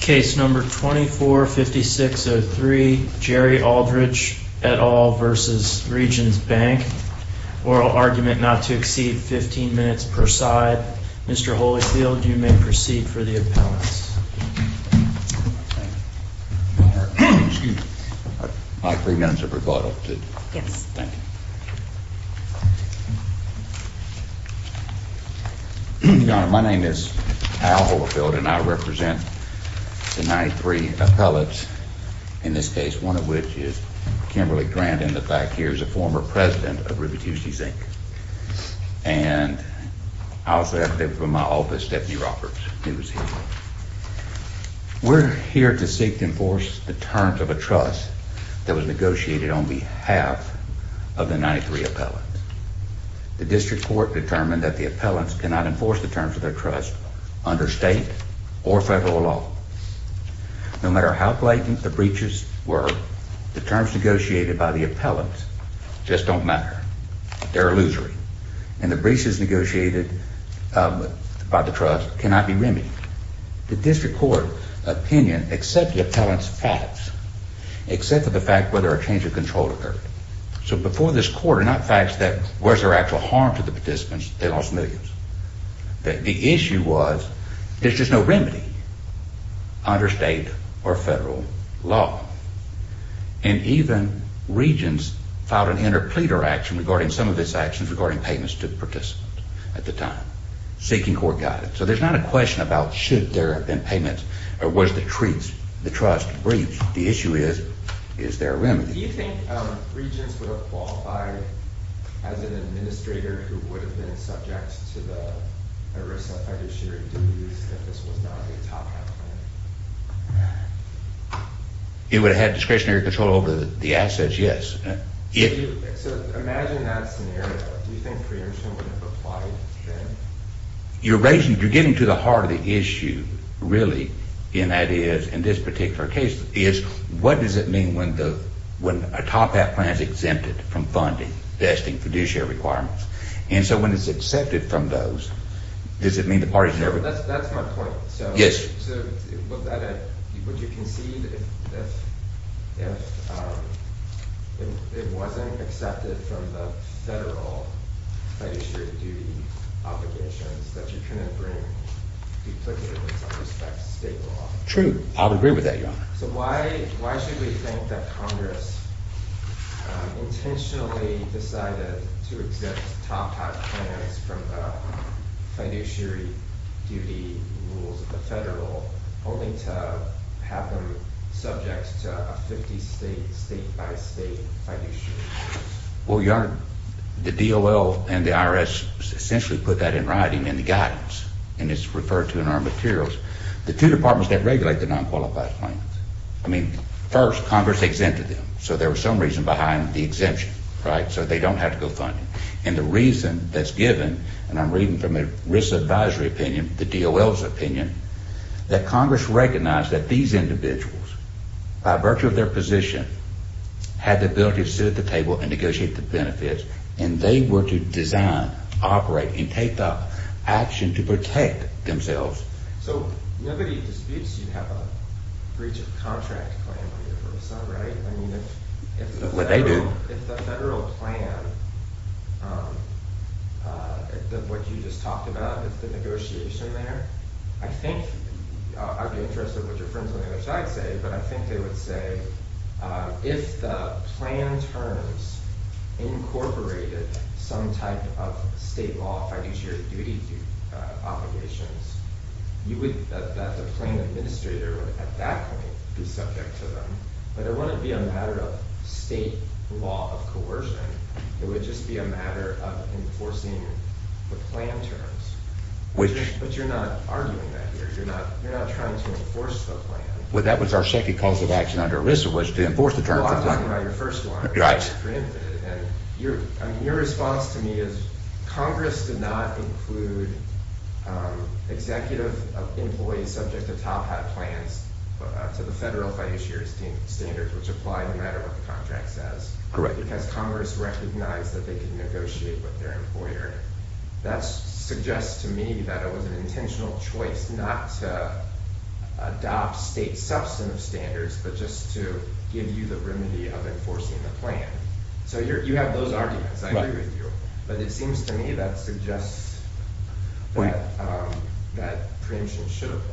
Case No. 245603, Jerry Aldridge et al. v. Regions Bank. Oral argument not to exceed 15 minutes per side. Mr. Holyfield, you may proceed for the appellants. My three minutes of recorded. Yes. Thank you. Thank you, Your Honor. My name is Al Holyfield, and I represent the 93 appellants, in this case, one of which is Kimberly Grandin, the fact here is a former president of River Tuesdays And I also have from my office, Stephanie Roberts, who is here. We're here to seek to enforce the terms of a trust that was negotiated on behalf of the 93 appellants. The district court determined that the appellants cannot enforce the terms of their trust under state or federal law. No matter how blatant the breaches were, the terms negotiated by the appellants just don't matter. They're illusory. And the breaches negotiated by the trust cannot be remedied. The district court opinion, except the appellants have, except for the fact whether a change of control occurred. So before this court, not the fact that was there actual harm to the participants, they lost millions. The issue was, there's just no remedy under state or federal law. And even regents filed an interpleader action regarding some of its actions regarding payments to the participants at the time, seeking court guidance. So there's not a question about should there have been payments or was the trust breached. The issue is, is there a remedy? Do you think regents would have qualified as an administrator who would have been subject to the ERISA fiduciary duties if this was not a top-down plan? It would have discretionary control over the assets, yes. So imagine that scenario. Do you think preemption would have applied then? You're raising, you're getting to the heart of the issue really, and that is, in this particular case, is what does it mean when a top-down plan is exempted from funding, vesting, fiduciary requirements? And so when it's accepted from those, does it mean the parties never? That's my point. Yes. So would you concede if it wasn't accepted from the federal fiduciary duty obligations that you couldn't bring duplicative in some respects to state law? I would agree with that, Your Honor. So why should we think that Congress intentionally decided to exempt top-down plans from the fiduciary duty rules of the federal only to have them subject to a 50-state, state-by-state fiduciary duty? Well, Your Honor, the DOL and the IRS essentially put that in writing in the guidance, and it's referred to in our materials. The two departments that regulate the non-qualified plans, I mean, first, Congress exempted them. So there was some reason behind the exemption, right? So they don't have to go funding. And the reason that's given, and I'm reading from a risk advisory opinion, the DOL's opinion, that Congress recognized that these individuals, by virtue of their position, had the ability to sit at the table and negotiate the benefits, and they were to design, operate, and take the action to protect themselves. So nobody disputes you have a breach of contract plan under the First Amendment, right? I mean, if the federal plan, what you just talked about with the negotiation there, I think I'd be interested in what your friends on the other side say, but I think they would say, if the plan terms incorporated some type of state law, financial duty obligations, that the plan administrator would, at that point, be subject to them. But it wouldn't be a matter of state law of coercion. It would just be a matter of enforcing the plan terms. But you're not arguing that here. You're not trying to enforce the plan. Well, that was our second cause of action under ERISA, was to enforce the terms of the plan. I'm talking about your first one. Right. And your response to me is, Congress did not include executive employees subject to top-hat plans to the federal fischer's standards, which apply no matter what the contract says. Correct. Because Congress recognized that they could negotiate with their employer. That suggests to me that it was an intentional choice not to adopt state substantive standards, but just to give you the remedy of enforcing the plan. So you have those arguments. I agree with you. But it seems to me that suggests that preemption should apply.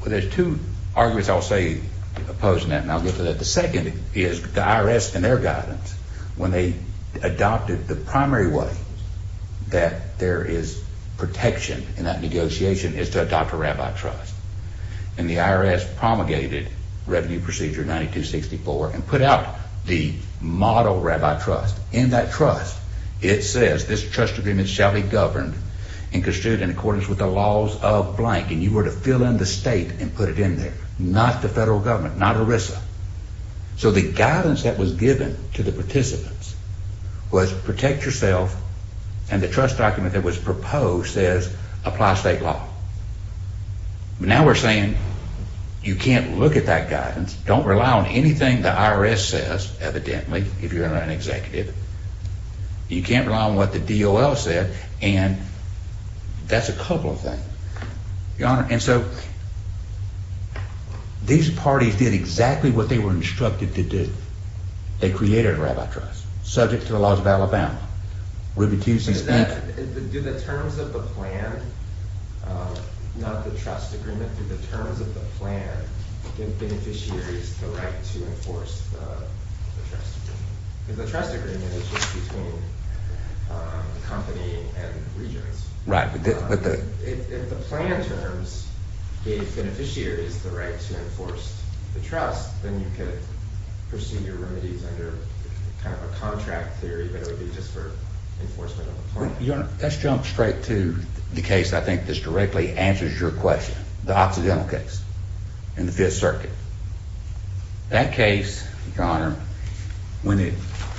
Well, there's two arguments I'll say opposing that. And I'll get to that. The second is the IRS, in their guidance, when they adopted the primary way that there is protection in that negotiation, is to adopt a rabbi trust. And the IRS promulgated Revenue Procedure 9264 and put out the model rabbi trust. In that trust, it says, this trust agreement shall be governed and construed in accordance with the laws of blank. And you were to fill in the state and put it in there, not the federal government, not ERISA. So the guidance that was given to the participants was protect yourself. And the trust document that was proposed says, apply state law. Now we're saying, you can't look at that guidance. Don't rely on anything the IRS says, evidently, if you're an executive. You can't rely on what the DOL said. And that's a couple of things. And so these parties did exactly what they were instructed to do. They created a rabbi trust, subject to the laws of Alabama. Ruby Tewsey's back. Do the terms of the plan, not the trust agreement, do the terms of the plan give beneficiaries the right to enforce the trust agreement? Because the trust agreement is just between the company and regions. Right. If the plan terms gave beneficiaries the right to enforce the trust, then you could pursue your remedies under kind of a contract theory, but it would be just for enforcement of the plan. Your Honor, let's jump straight to the case, I think, that directly answers your question, the Occidental case in the Fifth Circuit. That case, Your Honor, when it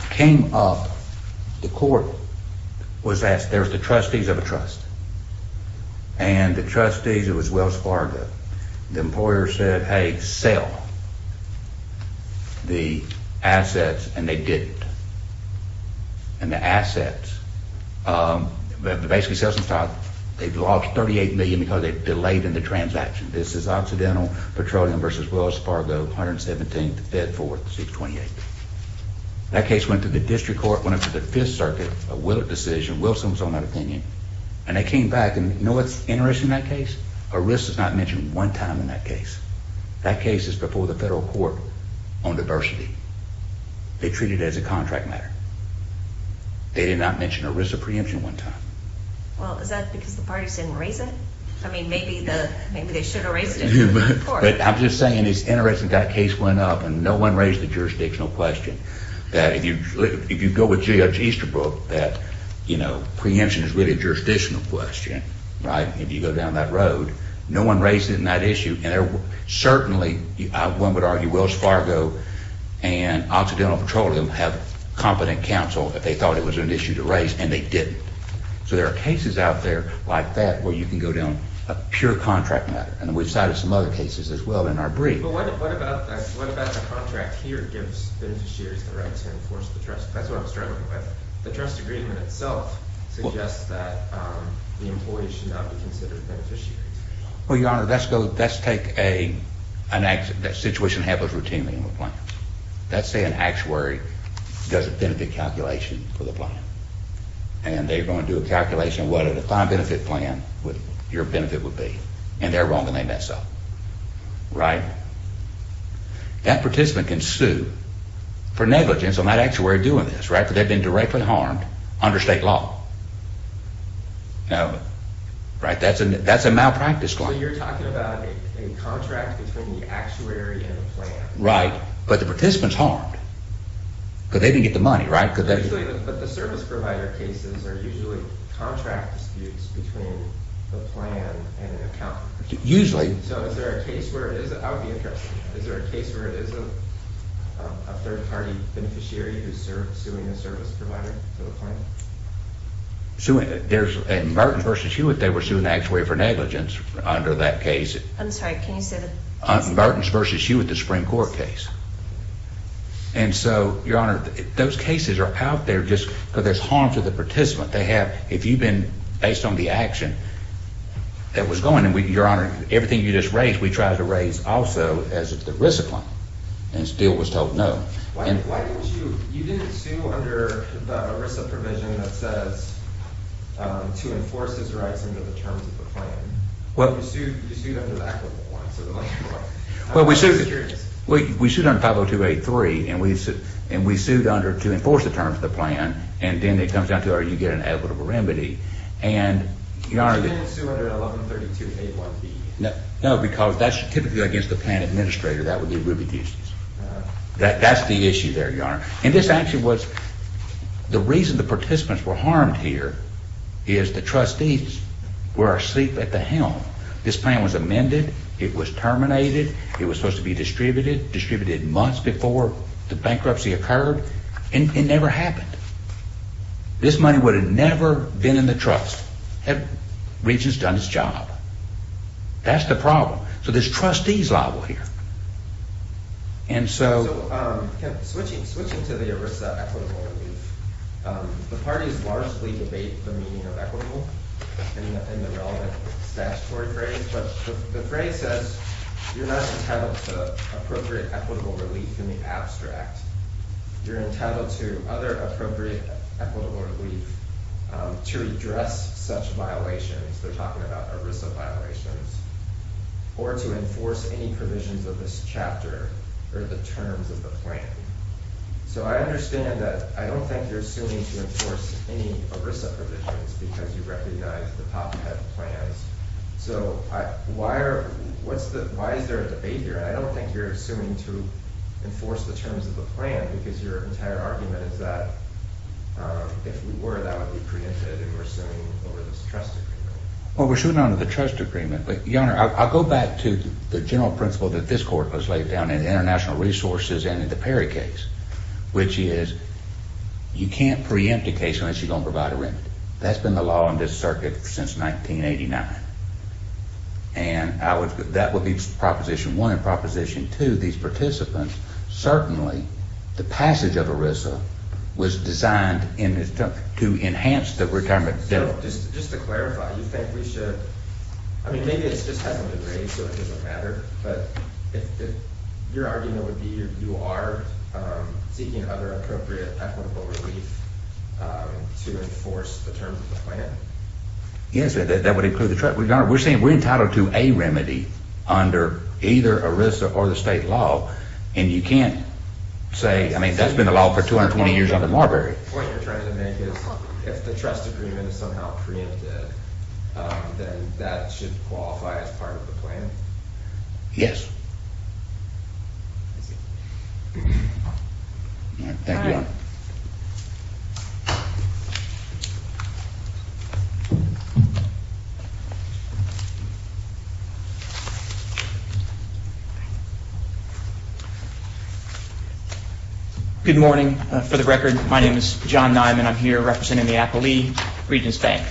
came up, the court was asked, there's the trustees of a trust. And the trustees, it was Wells Fargo. The employer said, hey, sell the assets. And they didn't. And the assets, basically sales and stock, they've lost $38 million because they delayed in the transaction. This is Occidental Petroleum versus Wells Fargo, 117th, Fed Fourth, 628th. That case went to the district court, went up to the Fifth Circuit, a Willett decision. Wilson was on that opinion. And they came back, and you know what's interesting in that case? Arista's not mentioned one time in that case. That case is before the federal court on diversity. They treat it as a contract matter. They did not mention Arista preemption one time. Well, is that because the parties didn't raise it? I mean, maybe they should have raised it in court. But I'm just saying it's interesting that case went up, and no one raised the jurisdictional question. That if you go with Judge Easterbrook, that preemption is really a jurisdictional question, right? If you go down that road, no one raised it in that issue. Certainly, one would argue Wells Fargo and Occidental Petroleum have competent counsel that they thought it was an issue to raise, and they didn't. So there are cases out there like that where you can go down a pure contract matter. And we've cited some other cases as well in our brief. But what about the contract here gives beneficiaries the right to enforce the trust? That's what I'm struggling with. The trust agreement itself suggests that the employee should not be considered a beneficiary. Well, Your Honor, let's take an action that situation happens routinely in the plan. Let's say an actuary does a benefit calculation for the plan, and they're going to do a calculation of what a defined benefit plan, what your benefit would be. And they're wrong, and they mess up. Right? That participant can sue for negligence on that actuary doing this, right? Because they've been directly harmed under state law. Now, right? That's a malpractice claim. So you're talking about a contract between the actuary and the plan. But the participant's harmed, because they didn't get the money, right? But the service provider cases are usually contract disputes between the plan and an accountant. Usually. So is there a case where it is? That would be interesting. Is there a case where it is a third party beneficiary who's suing a service provider for the plan? Suing? There's a Mertens v. Hewitt. They were suing an actuary for negligence under that case. I'm sorry. Can you say the case? Mertens v. Hewitt, the Supreme Court case. And so, Your Honor, those cases are out there just because there's harm to the participant. They have, if you've been based on the action that was going, and Your Honor, everything you just raised, we tried to raise also as a ERISA claim, and still was told no. Why don't you, you didn't sue under the ERISA provision that says to enforce his rights under the terms of the plan. You sued under that one. Well, we sued under 50283, and we sued under to enforce the terms of the plan. And then it comes down to, are you getting an equitable remedy? And, Your Honor, that's typically against the plan administrator. That would be Rubio's case. That's the issue there, Your Honor. And this actually was, the reason the participants were harmed here is the trustees were asleep at the helm. This plan was amended. It was terminated. It was supposed to be distributed, distributed months before the bankruptcy occurred. And it never happened. This money would have never been in the trust had Regents done its job. That's the problem. So this trustee's liable here. And so switching to the ERISA equitable relief, the parties largely debate the meaning of equitable in the relevant statutory phrase. But the phrase says, you're not entitled to appropriate equitable relief in the abstract. You're entitled to other appropriate equitable relief to redress such violations. They're talking about ERISA violations. Or to enforce any provisions of this chapter or the terms of the plan. So I understand that, I don't think you're assuming to enforce any ERISA provisions because you recognize the top-heavy plans. So why is there a debate here? And I don't think you're assuming to enforce the terms of the plan because your entire argument is that, if we were, that would be preempted if we're suing over this trust agreement. Well, we're suing under the trust agreement. But Your Honor, I'll go back to the general principle that this court was laid down in international resources and in the Perry case, which is, you can't preempt a case unless you're gonna provide a remit. That's been the law in this circuit since 1989. And that would be proposition one. And proposition two, these participants, certainly the passage of ERISA was designed to enhance the retirement debt. Just to clarify, you think we should, I mean, maybe it's just hasn't been raised so it doesn't matter, but if your argument would be you are seeking other appropriate equitable relief to enforce the terms of the plan? Yes, that would include the trust. We're saying we're entitled to a remedy under either ERISA or the state law. And you can't say, I mean, that's been the law for 220 years under Marbury. What you're trying to make is if the trust agreement is somehow preempted, then that should qualify as part of the plan? Yes. All right, thank you, Your Honor. Good morning. For the record, my name is John Nyman. I'm here representing the appellee, Regents Bank.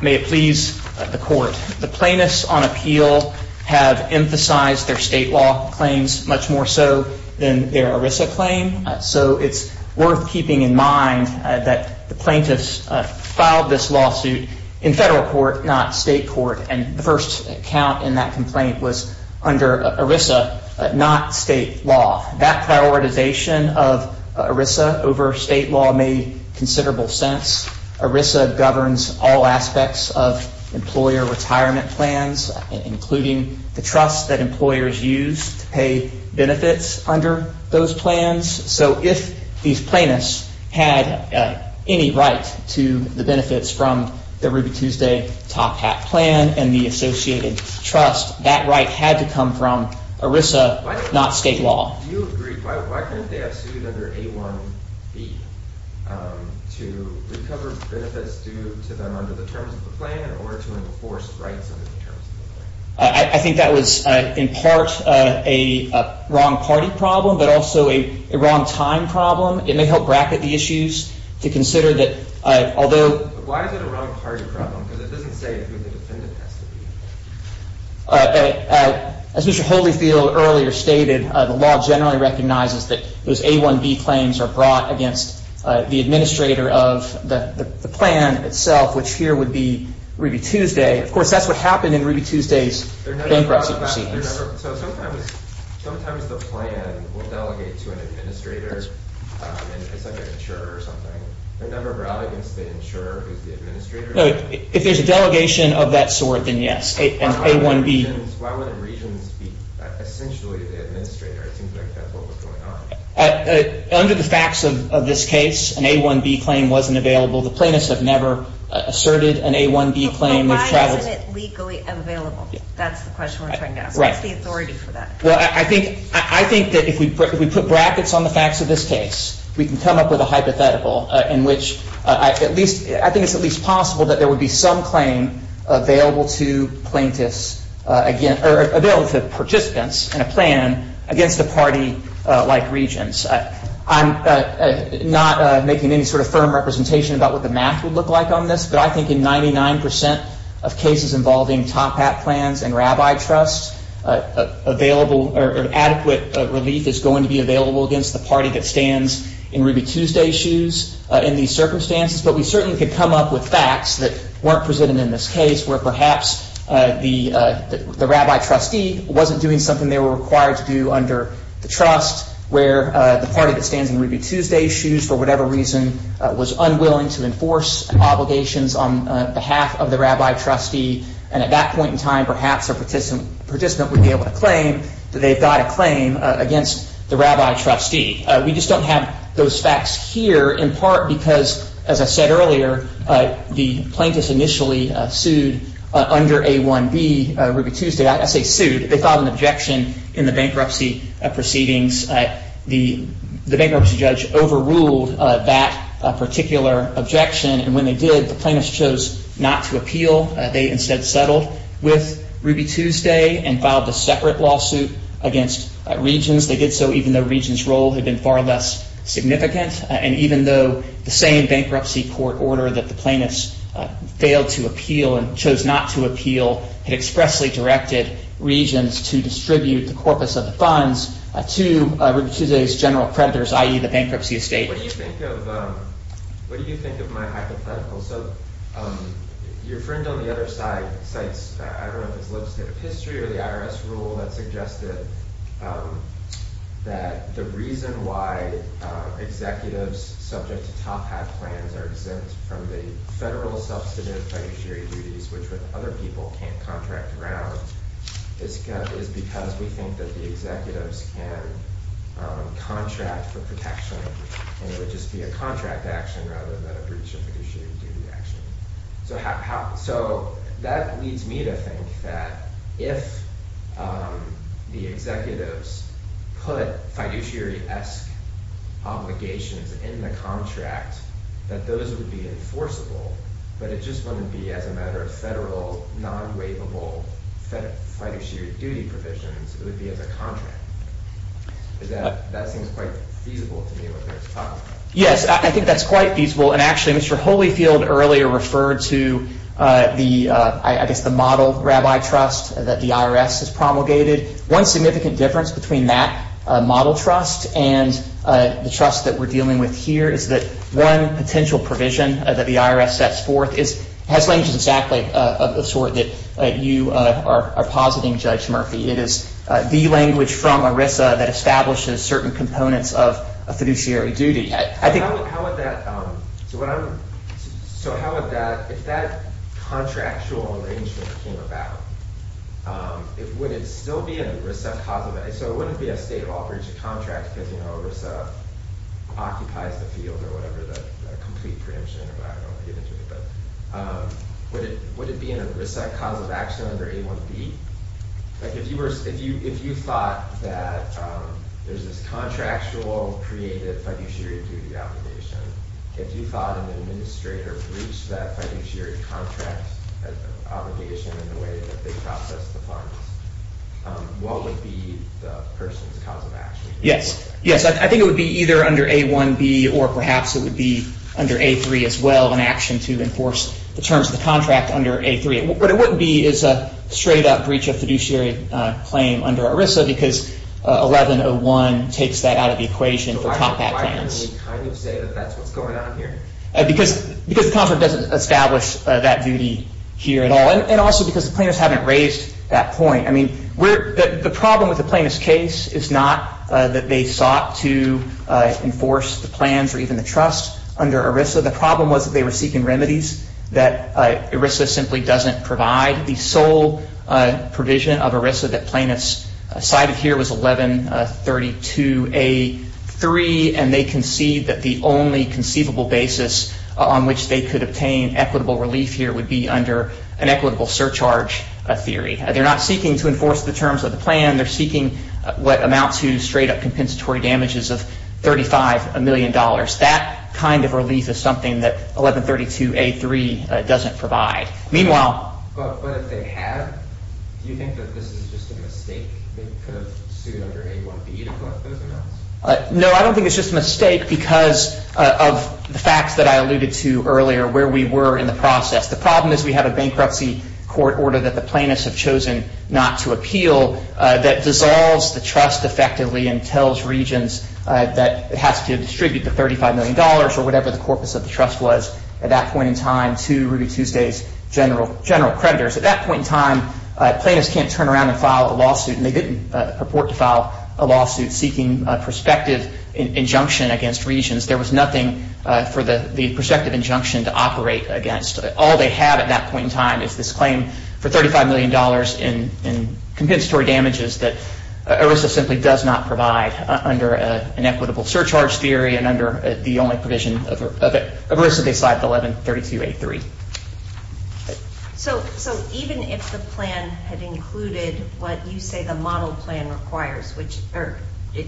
May it please the court. The plaintiffs on appeal have emphasized their state law claims much more so than their ERISA claim. So it's worth keeping in mind that the plaintiffs filed this lawsuit in federal court, not state court. And the first count in that complaint was under ERISA, not state law. That prioritization of ERISA over state law made considerable sense. ERISA governs all aspects of employer retirement plans, including the trust that employers use to pay benefits under those plans. So if these plaintiffs had any right to the benefits from the Ruby Tuesday Top Hat plan and the associated trust, that right had to come from ERISA, not state law. Do you agree? Why couldn't they have sued under A1B to recover benefits due to them under the terms of the plan or to enforce rights under the terms of the plan? I think that was, in part, a wrong party problem, but also a wrong time problem. It may help bracket the issues to consider that, although- Why is it a wrong party problem? Because it doesn't say who the defendant has to be. As Mr. Holyfield earlier stated, the law generally recognizes that those A1B claims are brought against the administrator of the plan itself, which here would be Ruby Tuesday. Of course, that's what happened in Ruby Tuesday's bankruptcy proceedings. So sometimes the plan will delegate to an administrator and it's like an insurer or something. The number of relegates the insurer who's the administrator of the plan? If there's a delegation of that sort, then yes, an A1B. Why wouldn't regions be essentially the administrator? It seems like that's what was going on. Under the facts of this case, an A1B claim wasn't available. The plaintiffs have never asserted an A1B claim. But why isn't it legally available? That's the question we're trying to ask. What's the authority for that? Well, I think that if we put brackets on the facts of this case, we can come up with a hypothetical in which I think it's at least possible that there would be some claim available to plaintiffs or available to participants in a plan against the party-like regions. I'm not making any sort of firm representation about what the math would look like on this. But I think in 99% of cases involving top hat plans and rabbi trusts, adequate relief is going to be available against the party that stands in Ruby Tuesday's shoes in these circumstances. But we certainly could come up with facts that weren't presented in this case, where perhaps the rabbi trustee wasn't doing something they were required to do under the trust, where the party that stands in Ruby Tuesday's shoes, for whatever reason, was unwilling to enforce obligations on behalf of the rabbi trustee. And at that point in time, perhaps a participant would be able to claim that they've got a claim against the rabbi trustee. We just don't have those facts here, in part because, as I said earlier, the plaintiffs initially sued under A1B Ruby Tuesday. I say sued. They filed an objection in the bankruptcy proceedings. The bankruptcy judge overruled that particular objection. And when they did, the plaintiffs chose not to appeal. They instead settled with Ruby Tuesday and filed a separate lawsuit against Regions. They did so even though Regions' role had been far less significant. And even though the same bankruptcy court order that the plaintiffs failed to appeal and chose not to appeal had expressly directed Regions to distribute the corpus of the funds to Ruby Tuesday's general creditors, i.e. the bankruptcy estate. What do you think of my hypothetical? So your friend on the other side cites, I don't know if it's legislative history or the IRS rule that suggested that the reason why executives subject to top hat plans are exempt from the federal substantive fiduciary duties, which other people can't contract around, is because we think that the executives can contract for protection. And it would just be a contract action rather than a breach of fiduciary duty action. So that leads me to think that if the executives put fiduciary-esque obligations in the contract, that those would be enforceable. But it just wouldn't be as a matter of federal non-waivable fiduciary duty provisions. It would be as a contract. That seems quite feasible to me what they're talking about. Yes, I think that's quite feasible. And actually, Mr. Holyfield earlier referred to the model rabbi trust that the IRS has promulgated. One significant difference between that model trust and the trust that we're dealing with here is that one potential provision that the IRS sets forth has languages exactly of the sort that you are positing, Judge Murphy. It is the language from ERISA that establishes certain components of a fiduciary duty. I think- So how would that, if that contractual arrangement came about, would it still be an ERISA-causative? So it wouldn't be a state law breach of contract because ERISA occupies the field or whatever, the complete preemption or whatever. I don't want to get into it, but would it be an ERISA-causative action under A1B? If you thought that there's this contractual, creative fiduciary duty obligation, if you thought an administrator breached that fiduciary contract obligation in the way that they processed the funds, what would be the person's cause of action? Yes. Yes, I think it would be either under A1B, or perhaps it would be under A3 as well, an action to enforce the terms of the contract under A3. What it wouldn't be is a straight-up breach of fiduciary claim under ERISA because 1101 takes that out of the equation for compact plans. So why can we kind of say that that's what's going on here? Because the contract doesn't establish that duty here at all, and also because the plaintiffs haven't raised that point. I mean, the problem with the plaintiff's case is not that they sought to enforce the plans or even the trust under ERISA. The problem was that they were seeking remedies that ERISA simply doesn't provide. The sole provision of ERISA that plaintiffs cited here was 1132A3, and they concede that the only conceivable basis on which they could obtain equitable relief here would be under an equitable surcharge theory. They're not seeking to enforce the terms of the plan. They're seeking what amounts to straight-up compensatory damages of $35 million. That kind of relief is something that 1132A3 doesn't provide. But if they have, do you think that this is just a mistake? They could have sued under A1B to collect those amounts? No, I don't think it's just a mistake because of the facts that I alluded to earlier where we were in the process. The problem is we have a bankruptcy court order that the plaintiffs have chosen not to appeal that dissolves the trust effectively and tells regions that it has to distribute the $35 million or whatever the corpus of the trust was at that point in time to Ruby Tuesday's general creditors. At that point in time, plaintiffs can't turn around and file a lawsuit, and they didn't purport to file a lawsuit seeking prospective injunction against regions. There was nothing for the prospective injunction to operate against. All they have at that point in time is this claim for $35 million in compensatory damages that ERISA simply does not provide under an equitable surcharge theory and under the only provision of ERISA, they cite 1132A3. So even if the plan had included what you say the model plan requires, or it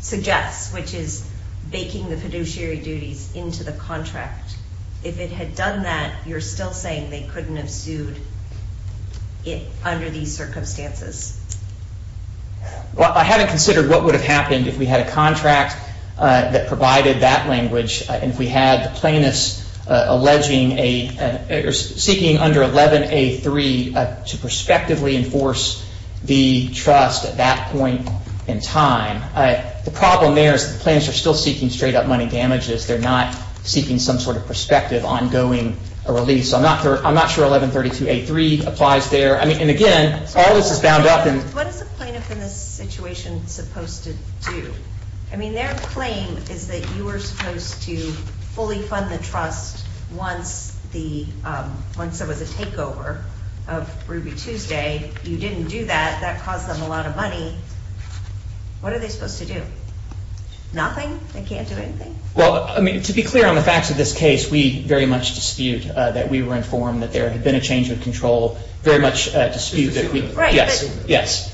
suggests, which is baking the fiduciary duties into the contract, if it had done that, you're still saying they couldn't have sued under these circumstances? Well, I haven't considered what would have happened if we had a contract that provided that language and if we had the plaintiffs seeking under 11A3 to prospectively enforce the trust at that point in time. The problem there is the plaintiffs are still seeking straight up money damages. They're not seeking some sort of prospective ongoing release. I'm not sure 1132A3 applies there. I mean, and again, all this is bound up in- What is a plaintiff in this situation supposed to do? I mean, their claim is that you were supposed to fully fund the trust once there was a takeover of Ruby Tuesday. You didn't do that. That cost them a lot of money. What are they supposed to do? Nothing? They can't do anything? Well, I mean, to be clear on the facts of this case, we very much dispute that we were informed that there had been a change of control. Very much dispute that we- Yes, yes.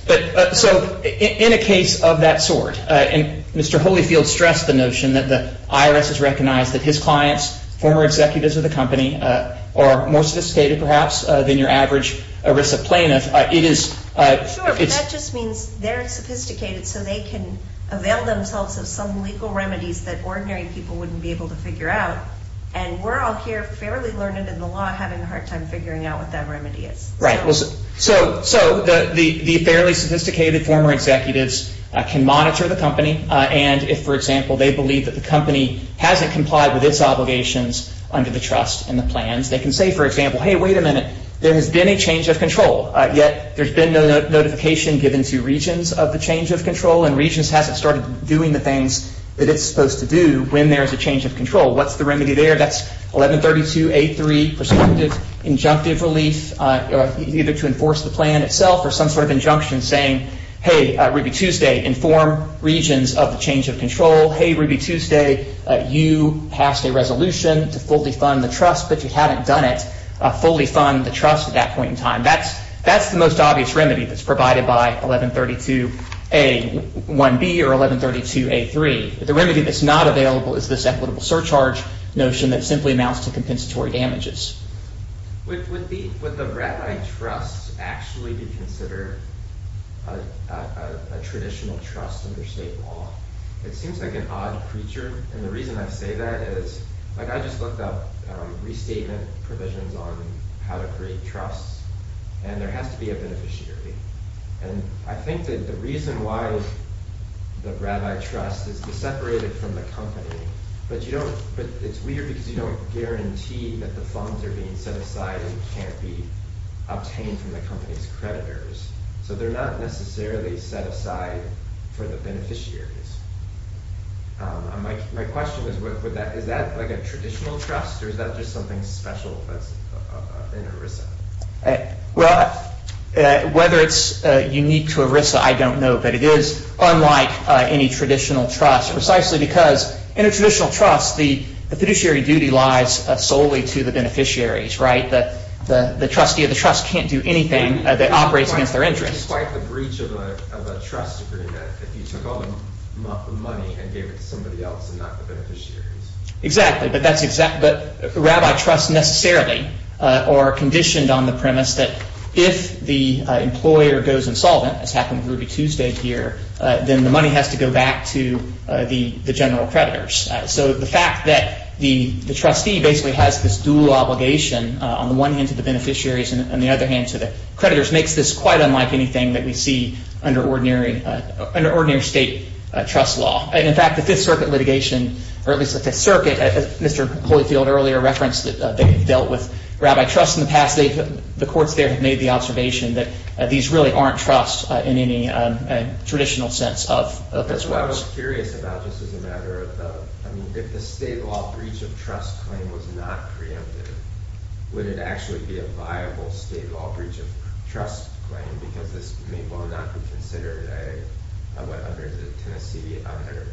So in a case of that sort, Mr. Holyfield stressed the notion that the IRS has recognized that his clients, former executives of the company, are more sophisticated perhaps than your average ERISA plaintiff. It is- Sure, but that just means they're sophisticated so they can avail themselves of some legal remedies that ordinary people wouldn't be able to figure out. And we're all here fairly learned in the law having a hard time figuring out what that remedy is. Right, so the fairly sophisticated former executives can monitor the company. And if, for example, they believe that the company hasn't complied with its obligations under the trust and the plans, they can say, for example, hey, wait a minute, there has been a change of control, yet there's been no notification given to Regions of the change of control, and Regions hasn't started doing the things that it's supposed to do when there is a change of control. What's the remedy there? That's 1132A3, perspective injunctive relief, either to enforce the plan itself or some sort of injunction saying, hey, Ruby Tuesday, inform Regions of the change of control. Hey, Ruby Tuesday, you passed a resolution to fully fund the trust, but you haven't done it, fully fund the trust at that point in time. That's the most obvious remedy that's provided by 1132A1B or 1132A3. The remedy that's not available is this equitable surcharge notion that simply amounts to compensatory damages. Would the rabbi trust actually be considered a traditional trust under state law? It seems like an odd creature, and the reason I say that is, like I just looked up restatement provisions on how to create trusts, and there has to be a beneficiary. And I think that the reason why the rabbi trust is separated from the company, but it's weird because you don't guarantee that the funds are being set aside and can't be obtained from the company's creditors. So they're not necessarily set aside for the beneficiaries. My question is, is that like a traditional trust or is that just something special that's in ERISA? Well, whether it's unique to ERISA, I don't know, but it is unlike any traditional trust precisely because in a traditional trust, the fiduciary duty lies solely to the beneficiaries, right? The trustee of the trust can't do anything that operates against their interest. Despite the breach of a trust agreement, if you took all the money and gave it to somebody else and not the beneficiaries. Exactly, but that's exactly, but rabbi trusts necessarily are conditioned on the premise that if the employer goes insolvent, as happened with Ruby Tuesday here, then the money has to go back to the general creditors. So the fact that the trustee basically has this dual obligation, on the one hand to the beneficiaries and on the other hand to the creditors, makes this quite unlike anything that we see under ordinary state trust law. And in fact, the Fifth Circuit litigation, or at least the Fifth Circuit, Mr. Holyfield earlier referenced that they've dealt with rabbi trusts in the past. The courts there have made the observation that these really aren't trusts in any traditional sense of this. So I was curious about this as a matter of the, I mean, if the state law breach of trust claim was not preempted, would it actually be a viable state law breach of trust claim? Because this may well not be considered a, under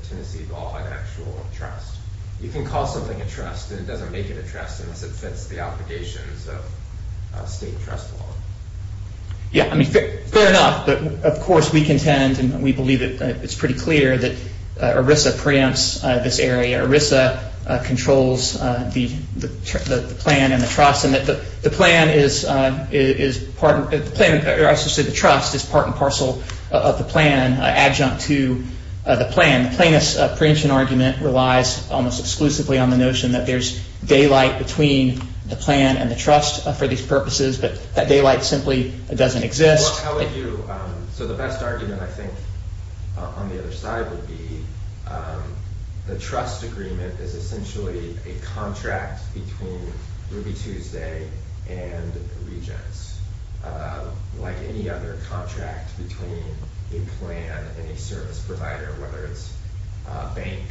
Tennessee law, an actual trust. You can call something a trust and it doesn't make it a trust unless it fits the obligations of state trust law. Yeah, I mean, fair enough, but of course we contend and we believe it's pretty clear that ERISA preempts this area. ERISA controls the plan and the trust and that the plan is part, the plan, or I should say the trust, is part and parcel of the plan, adjunct to the plan. The plaintiff's preemption argument relies almost exclusively on the notion that there's daylight between the plan and the trust for these purposes, but that daylight simply doesn't exist. How would you, so the best argument, I think, on the other side would be the trust agreement is essentially a contract between Ruby Tuesday and Regence, like any other contract between a plan and a service provider, whether it's a bank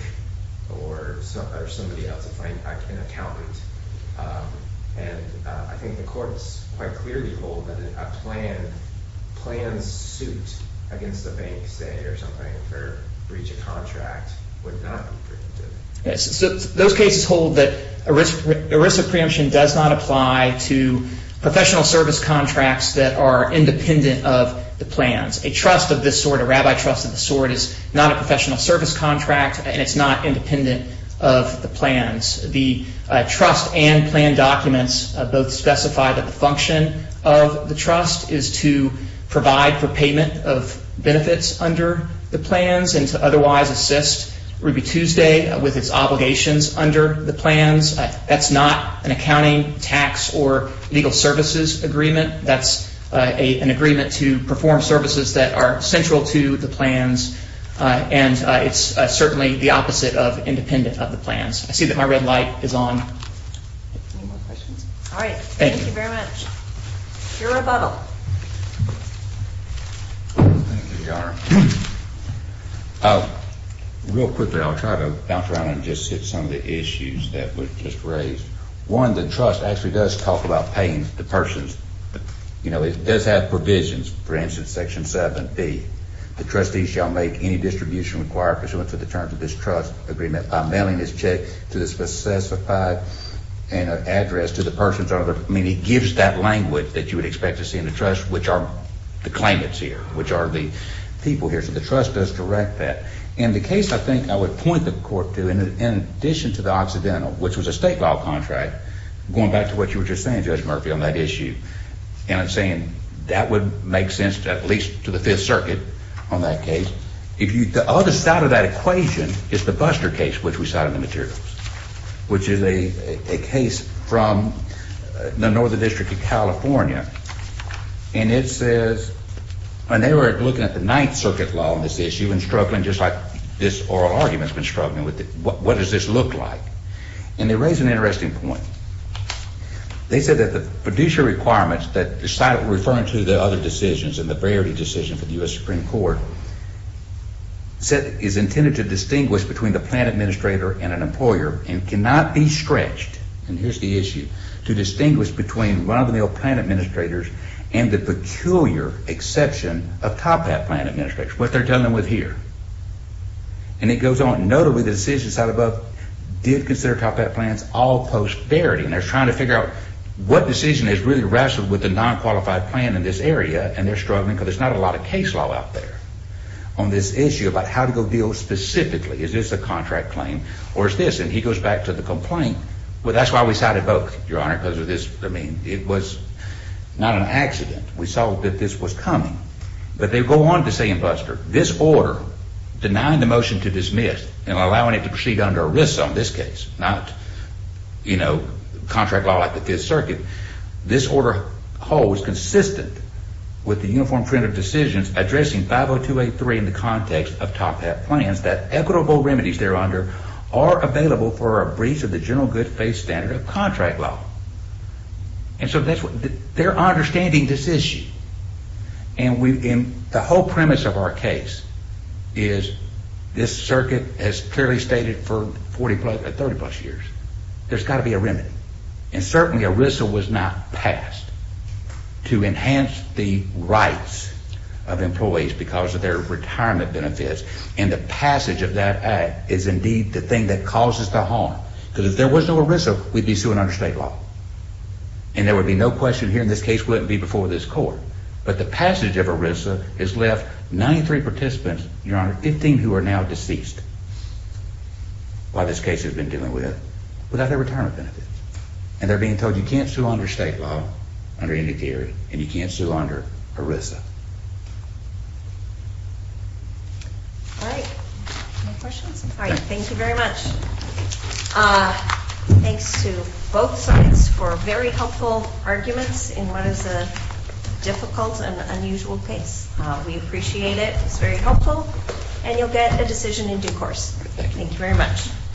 or somebody else, if I'm an accountant. And I think the courts quite clearly hold that a plan's suit against the bank, say, or something for breach of contract would not be preemptive. Yes, so those cases hold that ERISA preemption does not apply to professional service contracts that are independent of the plans. A trust of this sort, a rabbi trust of this sort, is not a professional service contract and it's not independent of the plans. The trust and plan documents both specify that the function of the trust is to provide for payment of benefits under the plans and to otherwise assist Ruby Tuesday with its obligations under the plans. That's not an accounting, tax, or legal services agreement. That's an agreement to perform services that are central to the plans and it's certainly the opposite of independent of the plans. I see that my red light is on. Any more questions? All right, thank you very much. Your rebuttal. Thank you, Your Honor. Real quickly, I'll try to bounce around and just hit some of the issues that were just raised. One, the trust actually does talk about paying the persons, you know, it does have provisions. For instance, section 7B, the trustee shall make any distribution required pursuant to the terms of this trust agreement by mailing his check to the specified address to the person's owner. I mean, it gives that language that you would expect to see in the trust, which are the claimants here, which are the people here. So the trust does direct that. In the case, I think I would point the court to, in addition to the Occidental, which was a state law contract, going back to what you were just saying, Judge Murphy, on that issue, and I'm saying that would make sense at least to the Fifth Circuit on that case. If the other side of that equation is the Buster case, which we cited in the materials, which is a case from the Northern District of California, and it says, and they were looking at the Ninth Circuit law on this issue and struggling just like this oral argument's been struggling with it. What does this look like? And they raised an interesting point. They said that the producer requirements that decided referring to the other decisions and the priority decision for the U.S. Supreme Court said is intended to distinguish between the plan administrator and an employer and cannot be stretched, and here's the issue, to distinguish between Robin Hill plan administrators and the peculiar exception of Top Hat plan administrators, what they're dealing with here. And it goes on, notably, the decision side above did consider Top Hat plans all post-verity, and they're trying to figure out what decision has really wrestled with the non-qualified plan in this area, and they're struggling because there's not a lot of case law out there on this issue about how to go deal specifically. Is this a contract claim, or is this, and he goes back to the complaint, well, that's why we cited both, Your Honor, because of this, I mean, it was not an accident. We saw that this was coming, but they go on to say in bluster, this order, denying the motion to dismiss and allowing it to proceed under ERISA on this case, not, you know, contract law like the Fifth Circuit, this order holds consistent with the uniform print of decisions addressing 50283 in the context of Top Hat plans that equitable remedies there under are available for a breach of the general good faith standard of contract law. And so they're understanding this issue, and the whole premise of our case is this circuit has clearly stated for 30 plus years, there's got to be a remedy. And certainly, ERISA was not passed to enhance the rights of employees because of their retirement benefits. And the passage of that act is indeed the thing that causes the harm, because if there was no ERISA, we'd be suing under state law. And there would be no question here in this case wouldn't be before this court. But the passage of ERISA has left 93 participants, Your Honor, 15 who are now deceased while this case has been dealing with, without their retirement benefits. And they're being told you can't sue under state law, under any theory. And you can't sue under ERISA. All right. Any questions? All right, thank you very much. Thanks to both sides for very helpful arguments in what is a difficult and unusual case. We appreciate it. It's very helpful. And you'll get a decision in due course. Thank you very much.